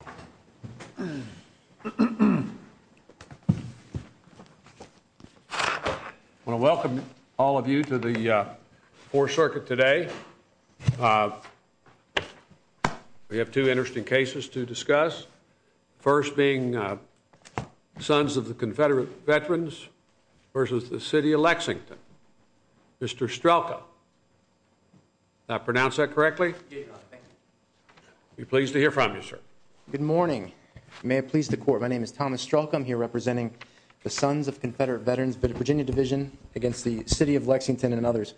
I want to welcome all of you to the Fourth Circuit today. We have two interesting cases to discuss, the first being Sons of Confederate Veterans v. City of Lexington. Mr. Strelka, did I pronounce that correctly? We're pleased to hear from you, sir. Good morning. May it please the Court, my name is Thomas Strelka. I'm here representing the Sons of Confederate Veterans of the Virginia Division against the City of Lexington and others.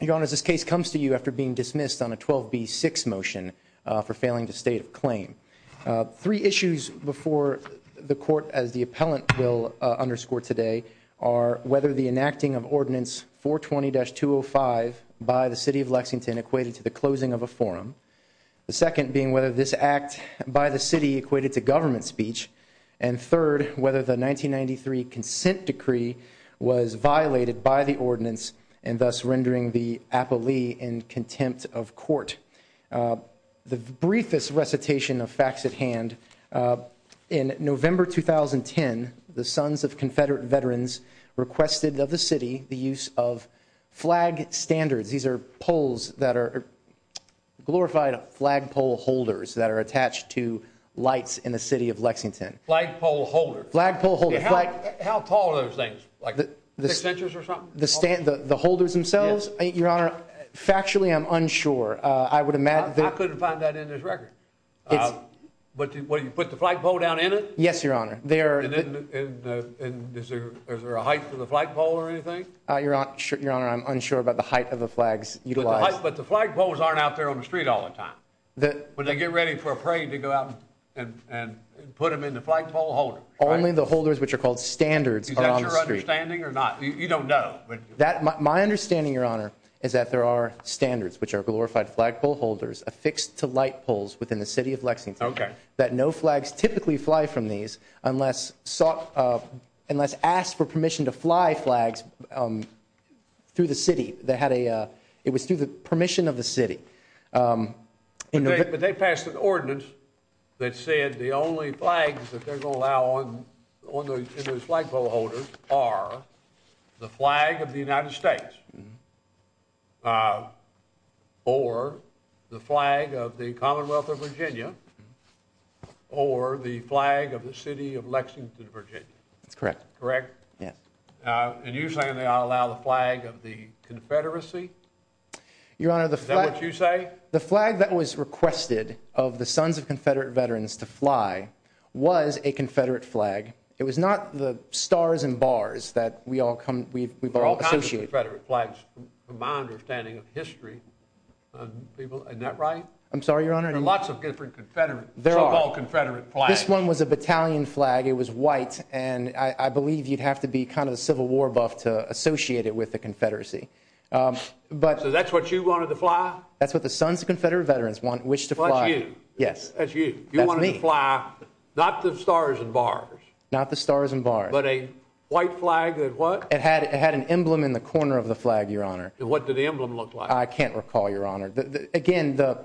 Your Honor, this case comes to you after being dismissed on a 12b6 motion for failing to state of claim. Three issues before the Court as the appellant will underscore today are whether the enacting of Section 120-205 by the City of Lexington equated to the closing of a forum, the second being whether this act by the City equated to government speech, and third, whether the 1993 Consent Decree was violated by the ordinance and thus rendering the appellee in contempt of court. The briefest recitation of facts at hand, in November 2010, the Sons of Confederate Flag Standards. These are poles that are glorified flagpole holders that are attached to lights in the City of Lexington. Flagpole holder? Flagpole holder. How tall are those things? Like six inches or something? The holders themselves? Your Honor, factually I'm unsure. I would imagine... I couldn't find that in this record. What, you put the flagpole down in it? Yes, Your Honor. Is there a height for the flagpole or anything? Your Honor, I'm unsure about the height of the flags utilized. But the flagpoles aren't out there on the street all the time. When they get ready for a parade, they go out and put them in the flagpole holder. Only the holders which are called standards are on the street. Is that your understanding or not? You don't know. My understanding, Your Honor, is that there are standards which are glorified flagpole holders affixed to light poles within the City of Lexington. Okay. That no flags typically fly from these unless sought... unless asked for permission to fly flags through the City. They had a... it was through the permission of the City. But they passed an ordinance that said the only flags that they're going to allow on the flagpole holders are the flag of the United States or the flag of the Commonwealth of Virginia or the flag of the City of Lexington, Virginia. That's correct. Correct? Yes. And you're saying they ought to allow the flag of the Confederacy? Your Honor, the flag... Is that what you say? The flag that was requested of the Sons of Confederate Veterans to fly was a Confederate flag. It was not the stars and bars that we all come... we've all associated. There are all kinds of Confederate flags from my understanding of history. People... isn't that right? I'm sorry, Your Honor. There are lots of different Confederate... so-called Confederate flags. This one was a battalion flag. It was white. And I believe you'd have to be kind of a Civil War buff to associate it with the Confederacy. But... So that's what you wanted to fly? That's what the Sons of Confederate Veterans want, wish to fly. That's you? Yes. That's you. You wanted to fly, not the stars and bars. Not the stars and bars. But a white flag that what? It had an emblem in the corner of the flag, Your Honor. What did the emblem look like? I can't recall, Your Honor. Again, the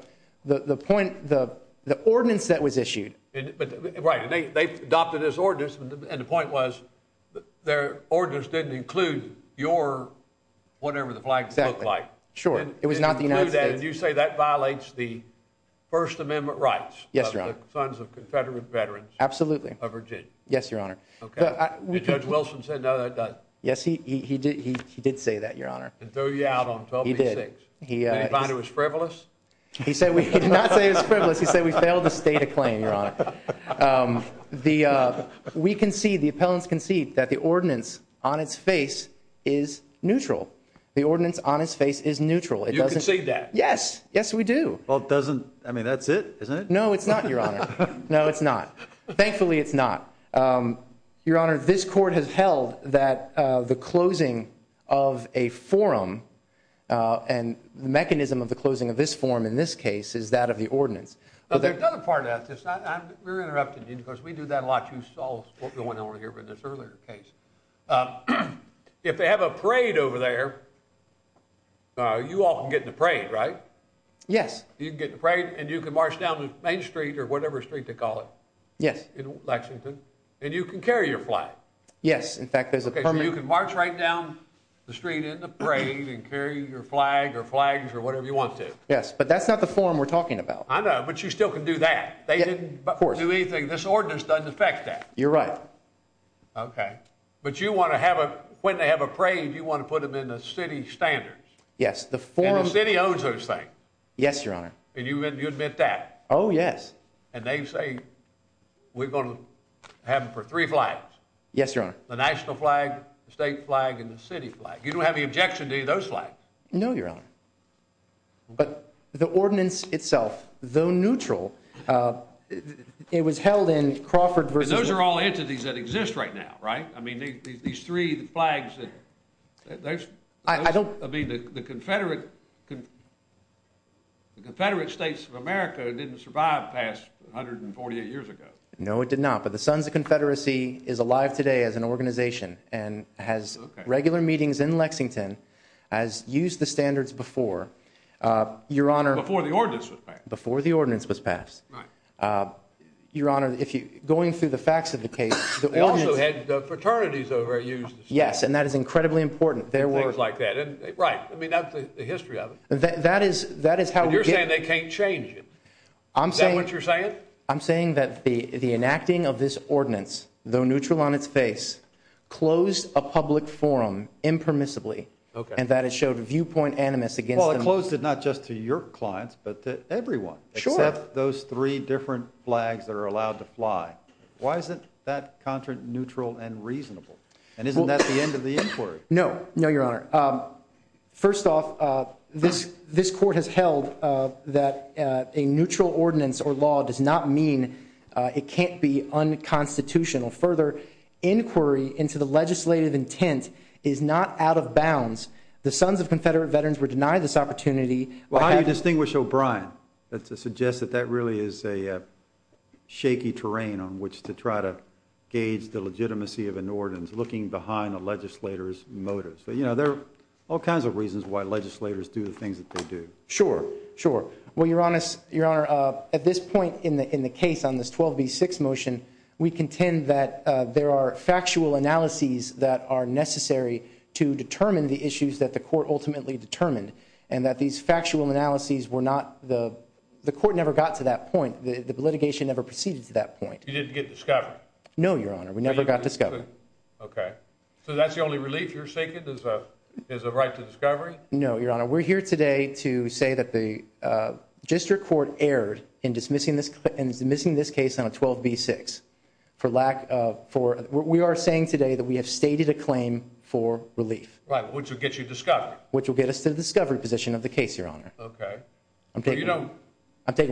point... the ordinance that was issued... Right. They adopted this ordinance, and the point was their ordinance didn't include your... whatever the flag looked like. Sure. It was not the United States. You say that violates the First Amendment rights? Yes, Your Honor. Of the Sons of Confederate Veterans? Absolutely. Of Virginia? Yes, Your Honor. Okay. Did Judge Wilson say no, that threw you out on 1286? He did. Did he find it was frivolous? He did not say it was frivolous. He said we failed to state a claim, Your Honor. We concede, the appellants concede that the ordinance on its face is neutral. The ordinance on its face is neutral. You concede that? Yes. Yes, we do. Well, it doesn't... I mean, that's it, isn't it? No, it's not, Your Honor. No, it's not. Thankfully, it's not. Your Honor, this court has held that the closing of a forum, and the mechanism of the closing of this forum, in this case, is that of the ordinance. There's another part of that. I'm very interrupted, because we do that a lot. You saw what went on here in this earlier case. If they have a parade over there, you all can get in the parade, right? Yes. You can get in the parade, and you can march down Main Street, or whatever street they call it in Lexington, and you can carry your flag. Yes, in fact, there's a parade. You can march right down the street in the parade, and carry your flag, or flags, or whatever you want to. Yes, but that's not the forum we're talking about. I know, but you still can do that. They didn't do anything. This ordinance doesn't affect that. You're right. Okay, but you want to have a... When they have a parade, you want to put them in the city standards. Yes, the forum... And the city owns those things. Yes, Your Honor. And you admit that. Oh, yes. And they say, we're going to have them for three flags. Yes, Your Honor. The national flag, the state flag, and the city flag. You don't have any objection to any of those flags. No, Your Honor. But the ordinance itself, though neutral, it was held in Crawford versus... And those are all entities that exist right now, right? I mean, these three flags... I don't... I mean, the Confederate States of America didn't survive 148 years ago. No, it did not. But the Sons of Confederacy is alive today as an organization, and has regular meetings in Lexington, has used the standards before, Your Honor... Before the ordinance was passed. Before the ordinance was passed. Your Honor, going through the facts of the case... They also had fraternities over... Yes, and that is incredibly important. Things like that, and right. I mean, that's the history of it. That is how we get... I'm saying that the enacting of this ordinance, though neutral on its face, closed a public forum impermissibly, and that it showed viewpoint animus against... Well, it closed it not just to your clients, but to everyone, except those three different flags that are allowed to fly. Why isn't that contract neutral and reasonable? And isn't that the end of the inquiry? No. No, Your Honor. First off, this court has held that a neutral ordinance, or law, does not mean it can't be unconstitutional. Further, inquiry into the legislative intent is not out of bounds. The Sons of Confederate Veterans were denied this opportunity... Well, how do you distinguish O'Brien? That suggests that that really is a shaky terrain on which to try to gauge the legitimacy of an ordinance, looking behind a legislator's motives. There are all kinds of reasons why legislators do the things that they do. Sure. Sure. Well, Your Honor, at this point in the case on this 12b6 motion, we contend that there are factual analyses that are necessary to determine the issues that the court ultimately determined, and that these factual analyses were not... The court never got to that point. The litigation never proceeded to that point. You didn't get discovery? No, Your Honor. We never got discovery. Okay. So that's the only relief you're seeking, is a right to discovery? No, Your Honor. We're here today to say that the district court erred in dismissing this case on a 12b6, for lack of... We are saying today that we have stated a claim for relief. Right, which will get you discovery. Which will get us to the discovery position of the case, Your Honor. Okay. I'm taking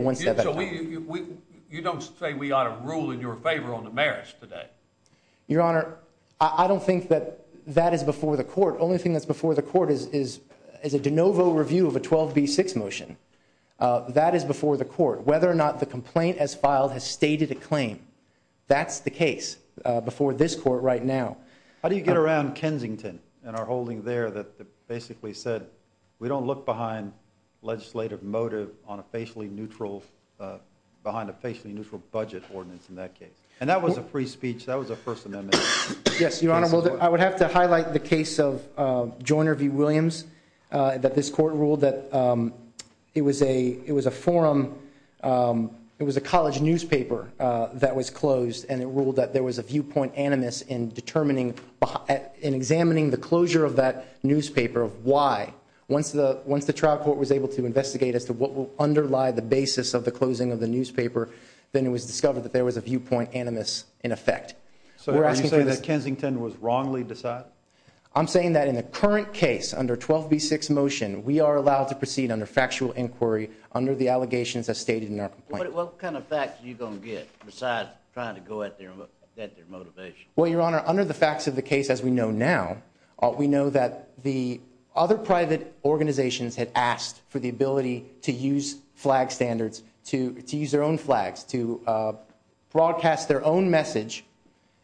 one step back. So you don't say we ought to rule in your favor on the merits today? Your Honor, I don't think that that is before the court. The only thing that's before the court is a pro-vote review of a 12b6 motion. That is before the court. Whether or not the complaint as filed has stated a claim, that's the case before this court right now. How do you get around Kensington and our holding there that basically said we don't look behind legislative motive on a facially neutral... Behind a facially neutral budget ordinance in that case? And that was a free speech. That was a first amendment. Yes, Your Honor. Well, I would have to highlight the case of Joyner v. Williams, that this court ruled that it was a forum... It was a college newspaper that was closed and it ruled that there was a viewpoint animus in determining... In examining the closure of that newspaper of why. Once the trial court was able to investigate as to what will underlie the basis of the closing of the newspaper, then it was discovered that there was a viewpoint animus in effect. So you're saying that Kensington was wrongly decided? I'm saying that in the current case under 12b6 motion, we are allowed to proceed under factual inquiry under the allegations as stated in our complaint. What kind of facts are you going to get besides trying to go at their motivation? Well, Your Honor, under the facts of the case as we know now, we know that the other private organizations had asked for the ability to use flag standards, to use their own flags, to broadcast their own message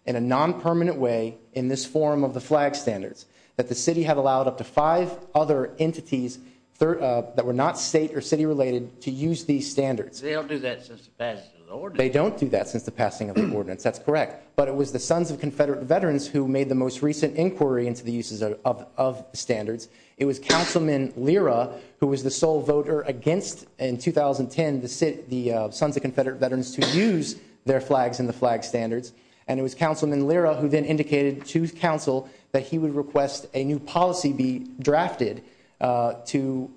in a non-permanent way in this form of the flag standards. That the city had allowed up to five other entities that were not state or city related to use these standards. They don't do that since the passing of the ordinance. They don't do that since the passing of the ordinance, that's correct. But it was the Sons of Confederate Veterans who made the most recent inquiry into the uses of standards. It was Councilman Lira who was the sole voter against, in 2010, the Sons of Confederate Veterans to use their flags in the flag standards. And it was Councilman Lira who then indicated to council that he would request a new policy be drafted to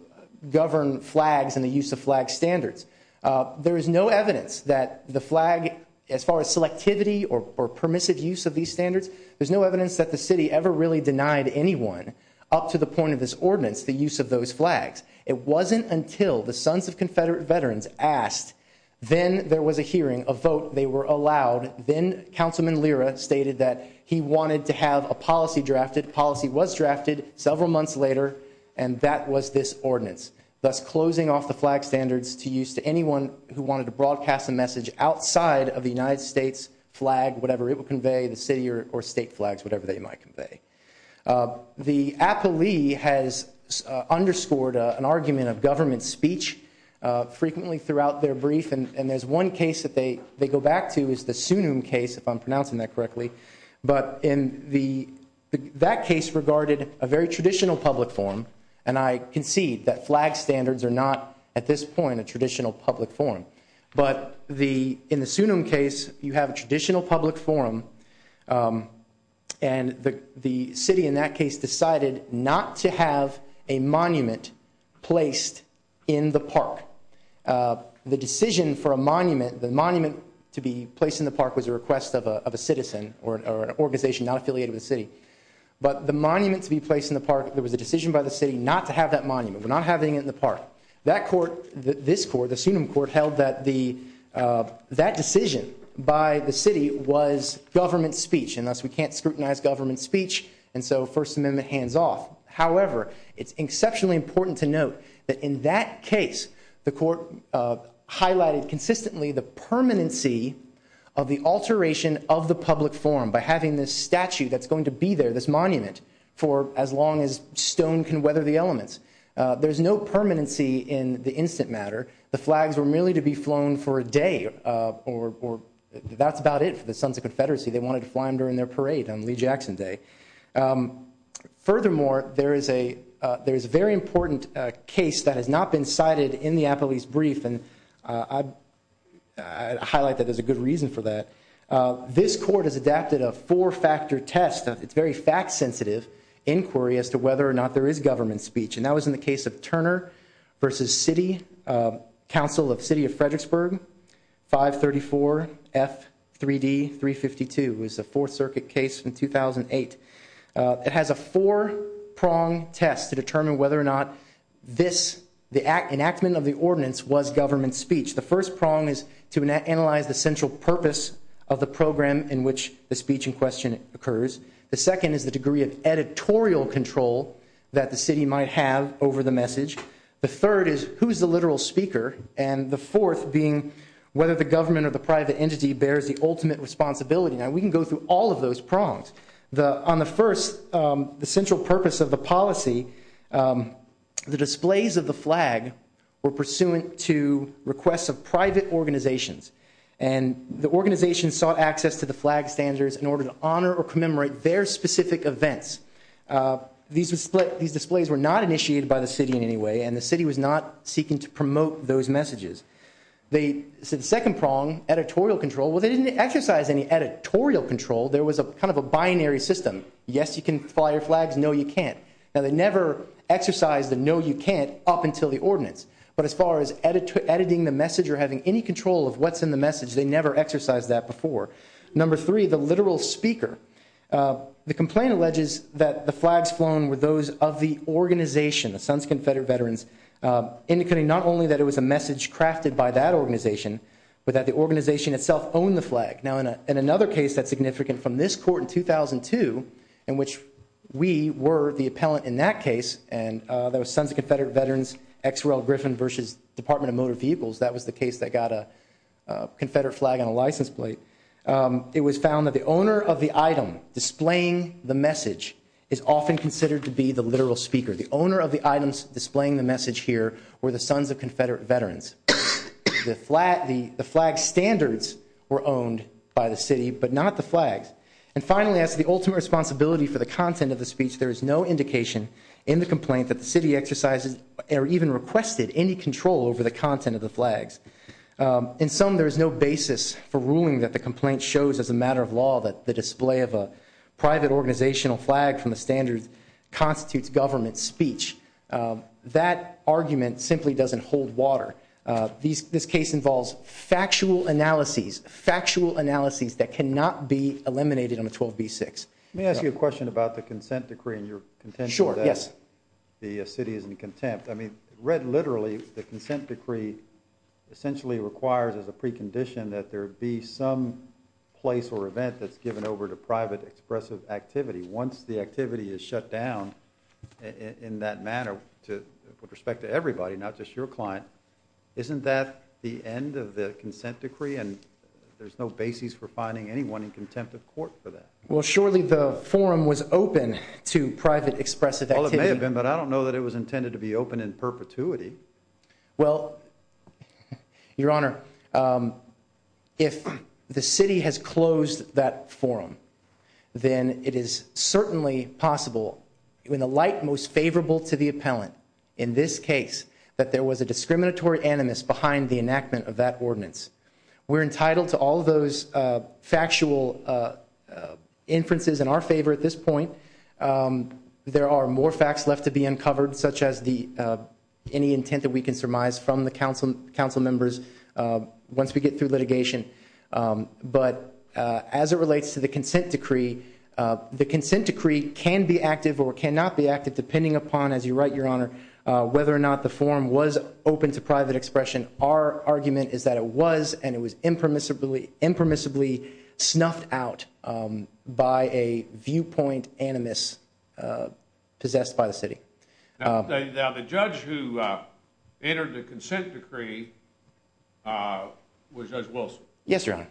govern flags and the use of flag standards. There is no evidence that the flag, as far as selectivity or permissive use of these standards, there's no evidence that the city ever really denied anyone up to the point of this ordinance, the use of those flags. It wasn't until the Sons of Confederate Veterans asked, then there was a hearing, a vote, they were allowed, then Councilman Lira stated that he wanted to have a policy drafted. Policy was drafted several months later and that was this ordinance. Thus closing off the flag standards to use to anyone who wanted to broadcast a message outside of the United States flag, whatever it would convey, the city or state flags, whatever they might convey. The Apo Lee has underscored an argument of government speech frequently throughout their brief and there's one case that they go back to is the Sunum case, if I'm pronouncing that correctly. But that case regarded a very traditional public forum and I concede that flag standards are not, at this point, a traditional public forum. But in the Sunum case, you have a traditional public forum and the city in that case decided not to have a monument placed in the park. The decision for a monument, the monument to be placed in the park was a request of a citizen or an organization not affiliated with the city. But the monument to be placed in the park, there was a decision by the city not to have that monument, we're not having it in the park. That court, this court, the Sunum court, held that the, that decision by the city was government speech and thus we can't scrutinize government speech and so First Amendment hands off. However, it's exceptionally important to note that in that case, the court highlighted consistently the permanency of the alteration of the public forum by having this statue that's going to be there, this monument, for as long as stone can weather the elements. There's no permanency in the instant matter, the flags were merely to be flown for a day or that's about it for the sons of confederacy, they wanted to fly them during their parade on Lee Jackson Day. Furthermore, there is a, there's a very important case that has not been cited in the Applebee's brief and I highlight that there's a good reason for that. This court has adapted a four-factor test, it's very fact sensitive inquiry as to whether or not there is government speech and that was in the case of was the Fourth Circuit case in 2008. It has a four-prong test to determine whether or not this, the enactment of the ordinance was government speech. The first prong is to analyze the central purpose of the program in which the speech in question occurs. The second is the degree of editorial control that the city might have over the message. The third is who's the literal speaker and the fourth being whether the government or the private entity bears the all of those prongs. The, on the first, the central purpose of the policy, the displays of the flag were pursuant to requests of private organizations and the organization sought access to the flag standards in order to honor or commemorate their specific events. These displays were not initiated by the city in any way and the city was not seeking to promote those messages. The second prong, editorial control, well they didn't exercise any editorial control, there was a kind of a binary system. Yes you can fly your flags, no you can't. Now they never exercised the no you can't up until the ordinance but as far as editing the message or having any control of what's in the message, they never exercised that before. Number three, the literal speaker. The complaint alleges that the flags flown were those of the organization, the Suns crafted by that organization, but that the organization itself owned the flag. Now in another case that's significant from this court in 2002 in which we were the appellant in that case and there were Sons of Confederate Veterans, XRL Griffin versus Department of Motor Vehicles, that was the case that got a confederate flag on a license plate. It was found that the owner of the item displaying the message is often considered to be the literal speaker. The owner of the items displaying the message here were the Sons of Confederate Veterans. The flag standards were owned by the city but not the flags. And finally as the ultimate responsibility for the content of the speech there is no indication in the complaint that the city exercises or even requested any control over the content of the flags. In some there is no basis for ruling that the complaint shows as a matter of law that the display of a private organizational flag from the standards constitutes government speech. That argument simply doesn't hold water. This case involves factual analyses, factual analyses that cannot be eliminated on a 12b6. Let me ask you a question about the consent decree and your contention that the city is in contempt. I mean read literally the consent decree essentially requires as a precondition that there be some place or event that's given over to private expressive activity. Once the activity is shut down in that manner to with respect to everybody not just your client isn't that the end of the consent decree and there's no basis for finding anyone in contempt of court for that? Well surely the forum was open to private expressive activity. Well it may have been but I don't know that it intended to be open in perpetuity. Well your honor if the city has closed that forum then it is certainly possible in the light most favorable to the appellant in this case that there was a discriminatory animus behind the enactment of that ordinance. We're entitled to all those factual inferences in our favor at this point. There are more facts left to be uncovered such as the any intent that we can surmise from the council council members once we get through litigation. But as it relates to the consent decree the consent decree can be active or cannot be active depending upon as you write your honor whether or not the forum was open to private expression. Our argument is that it was and it was impermissibly impermissibly snuffed out by a point animus possessed by the city. Now the judge who entered the consent decree was judge Wilson. Yes your honor.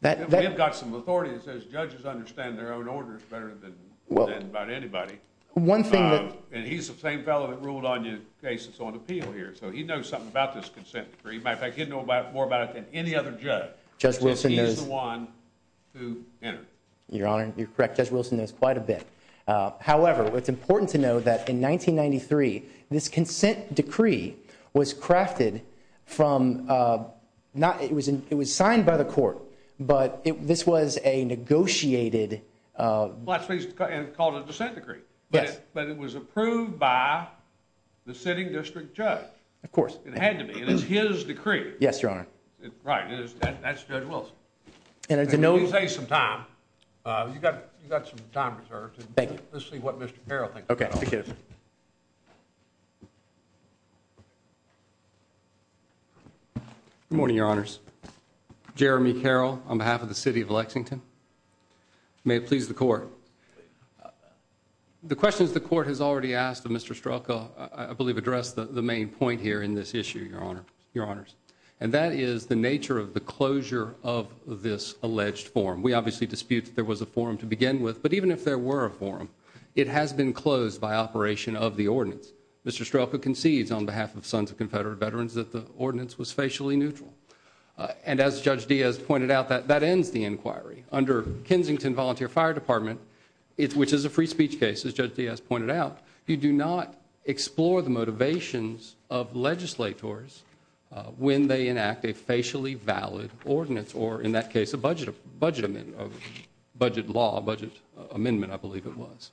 And we've got some authority that says judges understand their own orders better than well than about anybody. One thing that and he's the same fellow that ruled on your case that's on appeal here so he knows something about this consent decree. Matter of fact he'd know about more about it than any other judge. Judge Wilson is the one who entered. Your honor you're correct Judge Wilson knows quite a bit. However it's important to know that in 1993 this consent decree was crafted from not it was it was signed by the court but it this was a negotiated black space and called a dissent decree. Yes. But it was approved by the sitting district judge. Of course. It had to be. It is his decree. Yes your honor. Right it is that's judge Wilson. And as you know. Say some time uh you got you got some time reserved. Thank you. Let's see what Mr. Carroll thinks. Okay. Good morning your honors. Jeremy Carroll on behalf of the city of Lexington. May it please the court. The questions the court has already asked of Mr. Strelka I believe addressed the the main point here in this issue your honor your honors and that is the nature of the closure of this alleged forum. We obviously dispute that there was a forum to begin with but even if there were a forum it has been closed by operation of the ordinance. Mr. Strelka concedes on behalf of sons of confederate veterans that the ordinance was facially neutral. And as Judge Diaz pointed out that that ends the inquiry under Kensington volunteer fire department which is a free speech case as Judge Diaz pointed out. You do not explore the motivations of legislators when they enact a facially valid ordinance or in that case a budget of budget amendment of budget law budget amendment I believe it was.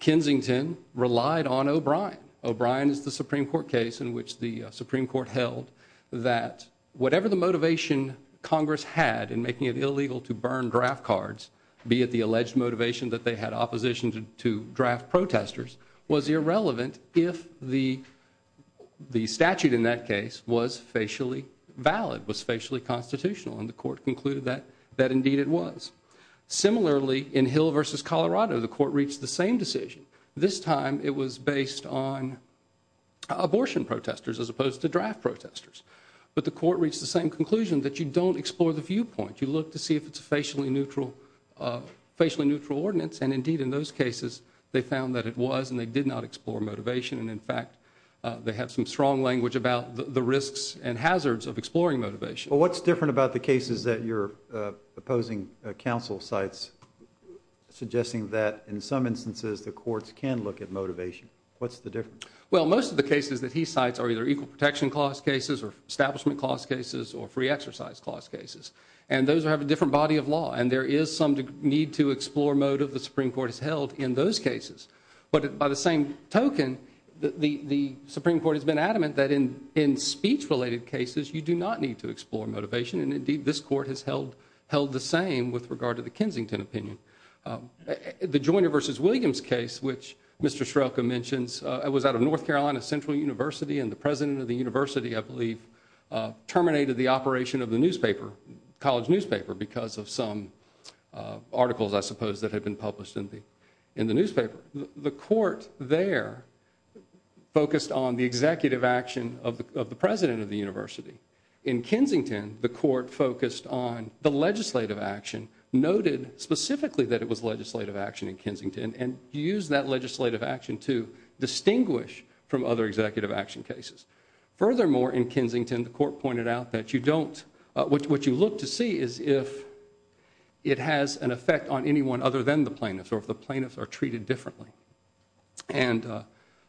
Kensington relied on O'Brien. O'Brien is the supreme court case in which the supreme court held that whatever the motivation congress had in illegal to burn draft cards be it the alleged motivation that they had opposition to draft protesters was irrelevant if the the statute in that case was facially valid was facially constitutional and the court concluded that that indeed it was. Similarly in Hill versus Colorado the court reached the same decision this time it was based on abortion protesters as opposed to draft protesters but the court reached the same conclusion that you don't explore the viewpoint you look to see if it's a facially neutral facially neutral ordinance and indeed in those cases they found that it was and they did not explore motivation and in fact they have some strong language about the risks and hazards of exploring motivation. Well what's different about the cases that you're opposing counsel cites suggesting that in some instances the courts can look at motivation what's the difference? Well most of the cases that he cites are either equal clause cases and those have a different body of law and there is some need to explore motive the supreme court has held in those cases but by the same token the the supreme court has been adamant that in in speech related cases you do not need to explore motivation and indeed this court has held held the same with regard to the Kensington opinion. The Joyner versus Williams case which Mr. Shrelka mentions it was out of North Carolina Central University and the president of the newspaper college newspaper because of some articles I suppose that had been published in the in the newspaper the court there focused on the executive action of the president of the university. In Kensington the court focused on the legislative action noted specifically that it was legislative action in Kensington and used that legislative action to distinguish from other what you look to see is if it has an effect on anyone other than the plaintiffs or if the plaintiffs are treated differently and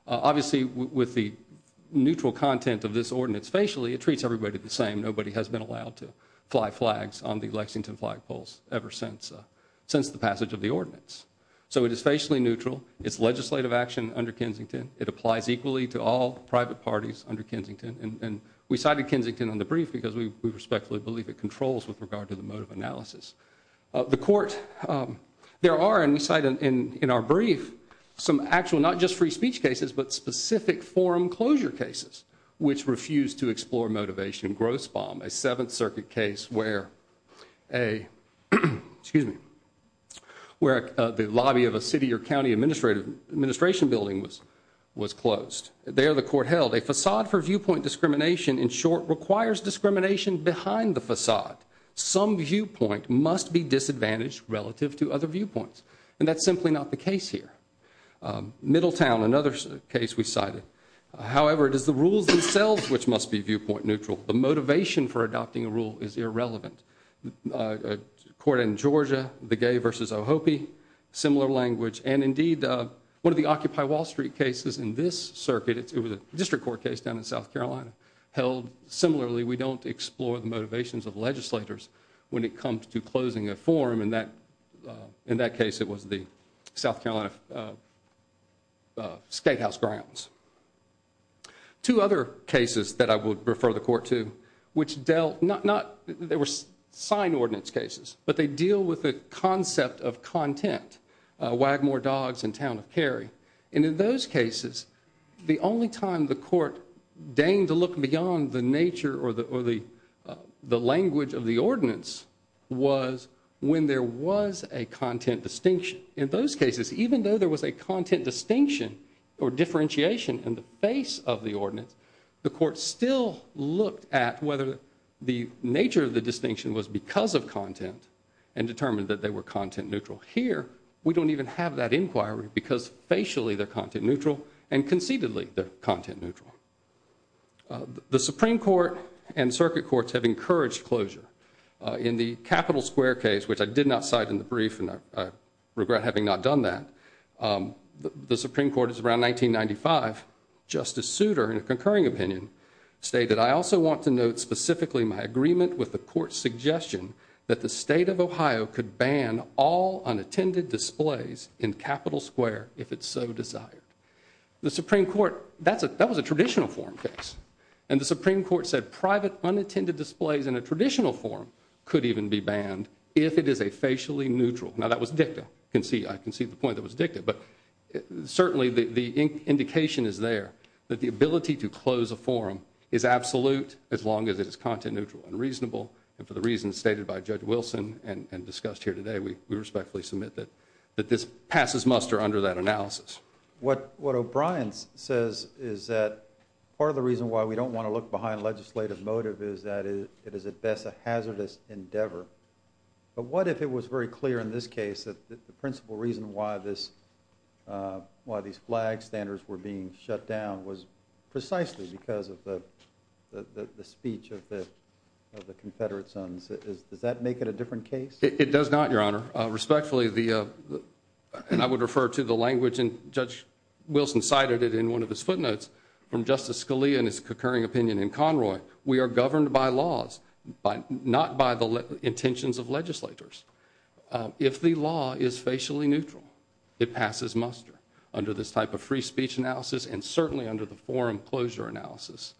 obviously with the neutral content of this ordinance facially it treats everybody the same nobody has been allowed to fly flags on the Lexington flag poles ever since since the passage of the ordinance so it is facially neutral it's legislative action under Kensington it applies equally to all private parties under Kensington and we cited Kensington on the brief because we respectfully believe it controls with regard to the mode of analysis the court there are and we cite in in our brief some actual not just free speech cases but specific forum closure cases which refuse to explore motivation gross bomb a seventh circuit case where a excuse me where the lobby of a city or county administrative administration building was was closed there the court held a facade for viewpoint discrimination in short requires discrimination behind the facade some viewpoint must be disadvantaged relative to other viewpoints and that's simply not the case here Middletown another case we cited however it is the rules themselves which must be viewpoint neutral the motivation for adopting a rule is irrelevant uh according to Georgia the gay versus Ohope similar language and indeed uh one of the Occupy Wall Street cases in this circuit it was a district court case down in South Carolina held similarly we don't explore the motivations of legislators when it comes to closing a forum in that in that case it was the South Carolina uh uh skate house grounds two other cases that I would sign ordinance cases but they deal with the concept of content uh Wagmore Dogs and Town of Cary and in those cases the only time the court deigned to look beyond the nature or the or the the language of the ordinance was when there was a content distinction in those cases even though there was a content distinction or differentiation in the face of the ordinance the court still looked at whether the nature of the distinction was because of content and determined that they were content neutral here we don't even have that inquiry because facially they're content neutral and conceitedly they're content neutral the Supreme Court and circuit courts have encouraged closure in the capital square case which I did not cite in the brief and I regret having not done that um the Supreme Court is 1995 Justice Souter in a concurring opinion stated I also want to note specifically my agreement with the court's suggestion that the state of Ohio could ban all unattended displays in capital square if it's so desired the Supreme Court that's a that was a traditional forum case and the Supreme Court said private unattended displays in a traditional forum could even be banned if it is a facially neutral now that was dicta can see I can see the point that was dicta but certainly the the indication is there that the ability to close a forum is absolute as long as it is content neutral and reasonable and for the reasons stated by Judge Wilson and and discussed here today we we respectfully submit that that this passes muster under that analysis what what O'Brien says is that part of the reason why we don't want to look behind legislative motive is that it is at best a hazardous endeavor but what if it was very clear in this case that the principal reason why this uh why these flag standards were being shut down was precisely because of the the the speech of the of the confederate sons is does that make it a different case it does not your honor uh respectfully the uh and I would refer to the language and Judge Wilson cited it in one of his footnotes from Justice Scalia and his concurring opinion in Conroy we are governed by laws by not by the intentions of legislators if the law is facially neutral it passes muster under this type of free speech analysis and certainly under the forum closure analysis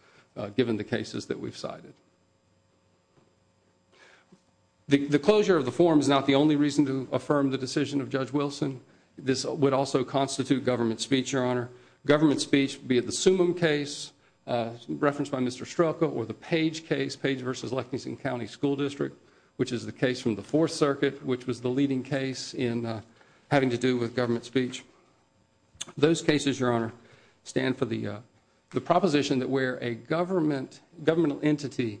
given the cases that we've cited the the closure of the forum is not the only reason to affirm the decision of Judge Wilson this would also constitute government speech your honor government speech be at the summum case referenced by Mr. Strelka or the page case page versus Lexington County School District which is the case from the fourth circuit which was the leading case in having to do with government speech those cases your honor stand for the the proposition that where a government governmental entity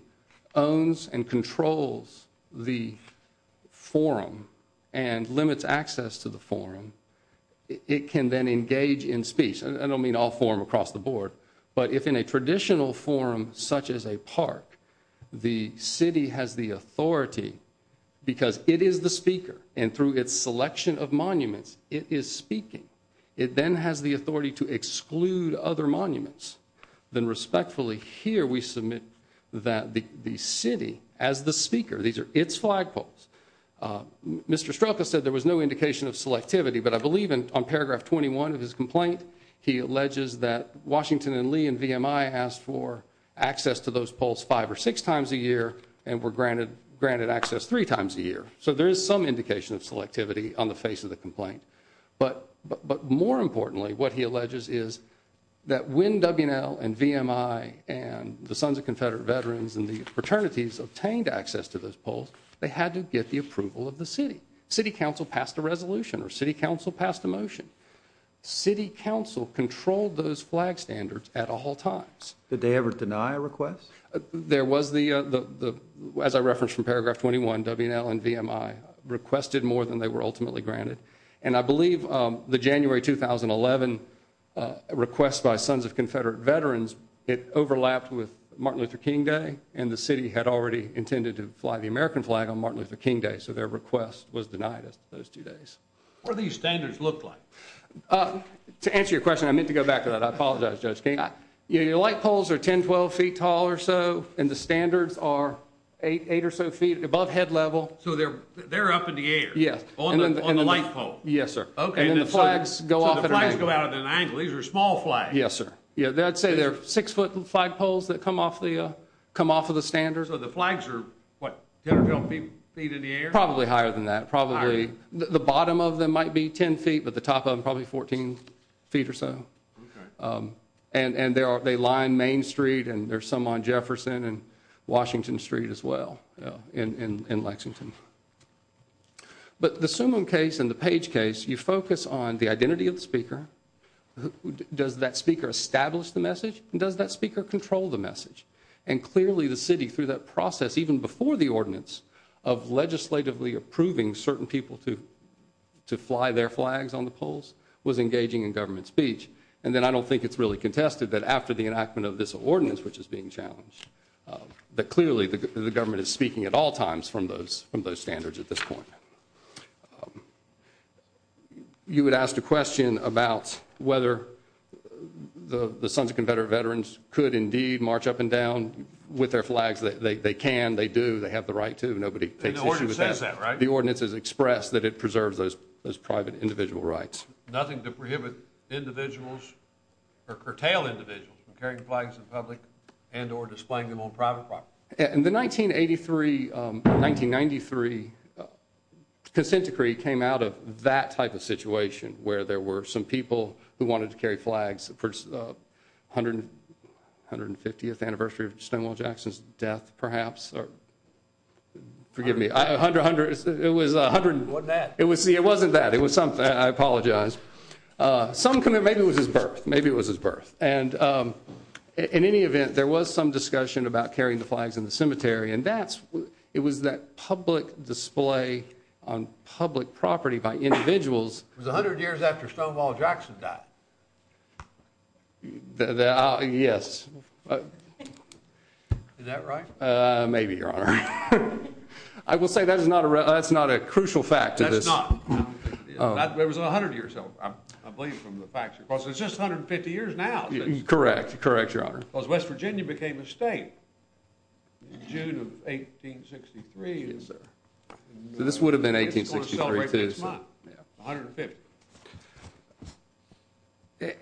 owns and controls the forum and limits access to the forum it can then engage in speech I don't mean all forum across the board but if in a traditional forum such as a park the city has the authority because it is the speaker and through its selection of monuments it is speaking it then has the authority to exclude other monuments then respectfully here we submit that the the city as the speaker these are its flagpoles Mr. Strelka said there was no he alleges that Washington and Lee and VMI asked for access to those polls five or six times a year and were granted granted access three times a year so there is some indication of selectivity on the face of the complaint but but more importantly what he alleges is that when W&L and VMI and the Sons of Confederate Veterans and the fraternities obtained access to those polls they had to get the approval of the city city council passed a resolution or city council passed a motion city council controlled those flag standards at all times did they ever deny a request there was the uh the as I referenced from paragraph 21 W&L and VMI requested more than they were ultimately granted and I believe um the January 2011 uh request by Sons of Confederate Veterans it overlapped with Martin Luther King Day and the city had already intended to fly the American flag on Martin Luther King Day so their request was denied as those two days what do these standards look like uh to answer your question I meant to go back to that I apologize Judge King yeah your light poles are 10 12 feet tall or so and the standards are eight eight or so feet above head level so they're they're up in the air yes on the light pole yes sir okay and the flags go off and the flags go out at an angle these are small flags yes sir yeah I'd say they're six foot flag poles that come off the uh come off of the standards so the flags are what 10 or 12 feet in the air probably higher than that probably the bottom of them might be 10 feet but the top of them probably 14 feet or so okay um and and there are they lie in Main Street and there's some on Jefferson and Washington Street as well you know in in Lexington but the Summum case and the Page case you focus on the identity of the speaker who does that speaker establish the message and does that speaker control the message and clearly the city through that process even before the ordinance of legislatively approving certain people to to fly their flags on the polls was engaging in government speech and then I don't think it's really contested that after the enactment of this ordinance which is being challenged that clearly the government is speaking at all times from those from those standards at this point you would ask a question about whether the the sons of Confederate veterans could indeed march up and down with their flags that they can they do they have the right to nobody takes the ordinance is expressed that it preserves those those private individual rights nothing to prohibit individuals or curtail individuals from carrying flags in public and or displaying them on private property in the 1983 um 1993 consent decree came out of that type of situation where there were some people who wanted to carry flags for 100 150th anniversary of Stonewall Jackson's death perhaps or forgive me 100 100 it was 100 wasn't that it was see it wasn't that it was something I apologize uh some kind of maybe it was his birth maybe it was his birth and um in any event there was some discussion about carrying the flags in the cemetery and that's it was that public display on public property by individuals it was 100 years after Stonewall Jackson died yes is that right uh maybe your honor I will say that is not a that's not a crucial fact that's not it was 100 years old I believe from the facts of course it's just 150 years now correct correct your honor because West Virginia became a state in June of 1863 this would have been 1863 150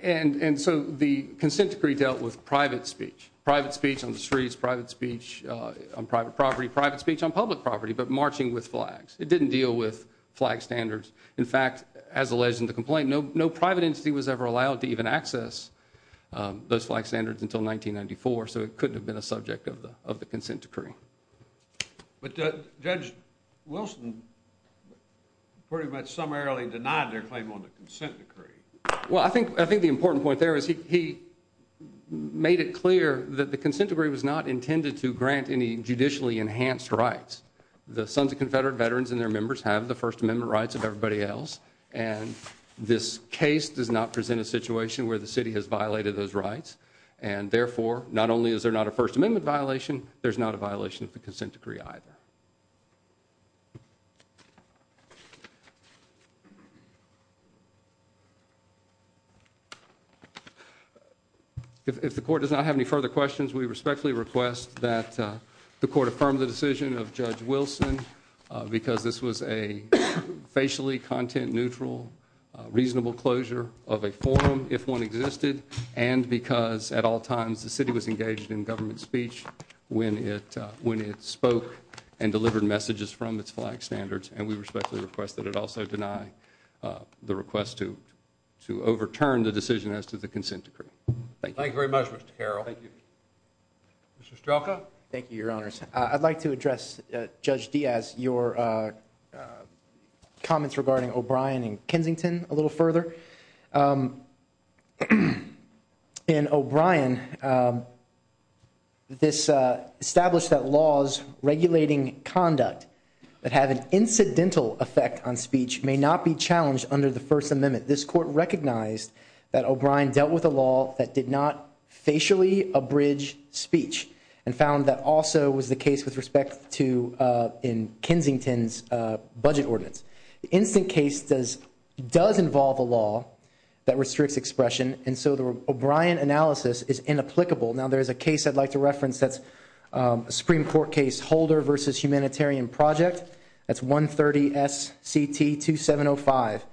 and and so the consent decree dealt with private speech private speech on the streets private speech uh on private property private speech on public property but marching with flags it didn't deal with flag standards in fact as alleged in the complaint no no private entity was ever allowed to access those flag standards until 1994 so it couldn't have been a subject of the of the consent decree but Judge Wilson pretty much summarily denied their claim on the consent decree well I think I think the important point there is he he made it clear that the consent decree was not intended to grant any judicially enhanced rights the sons of confederate veterans and their members have the first amendment rights of everybody else and this case does not present a situation where the city has violated those rights and therefore not only is there not a first amendment violation there's not a violation of the consent decree either if the court does not have any further questions we respectfully request that the court affirm the decision of Judge Wilson because this was a facially content neutral reasonable closure of a forum if one existed and because at all times the city was engaged in government speech when it when it spoke and delivered messages from its flag standards and we respectfully request that it also deny the request to to overturn the decision as to the consent decree thank you thank you very much Mr. Diaz your comments regarding O'Brien and Kensington a little further in O'Brien this established that laws regulating conduct that have an incidental effect on speech may not be challenged under the first amendment this court recognized that O'Brien dealt with a law that did facially abridge speech and found that also was the case with respect to in Kensington's budget ordinance the instant case does does involve a law that restricts expression and so the O'Brien analysis is inapplicable now there's a case I'd like to reference that's a Supreme Court case Holder versus Humanitarian Project that's 130 SCT 2705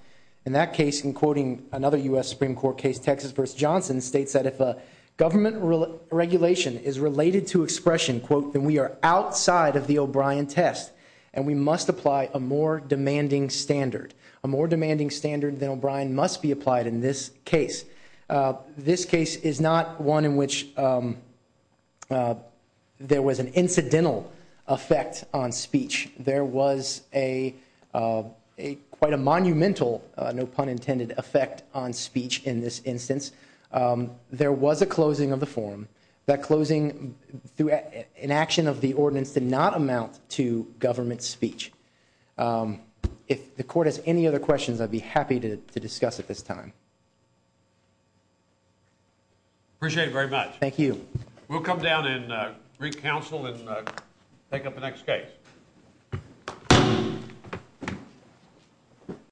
in that case in quoting another U.S. Supreme Court case Texas versus Johnson states that if a government regulation is related to expression quote then we are outside of the O'Brien test and we must apply a more demanding standard a more demanding standard than O'Brien must be applied in this case this case is not one in which there was an incidental effect on speech there was a quite a monumental no in this instance there was a closing of the form that closing through an action of the ordinance did not amount to government speech if the court has any other questions I'd be happy to to discuss at this time appreciate very much thank you we'll come down and re-counsel and take up the next case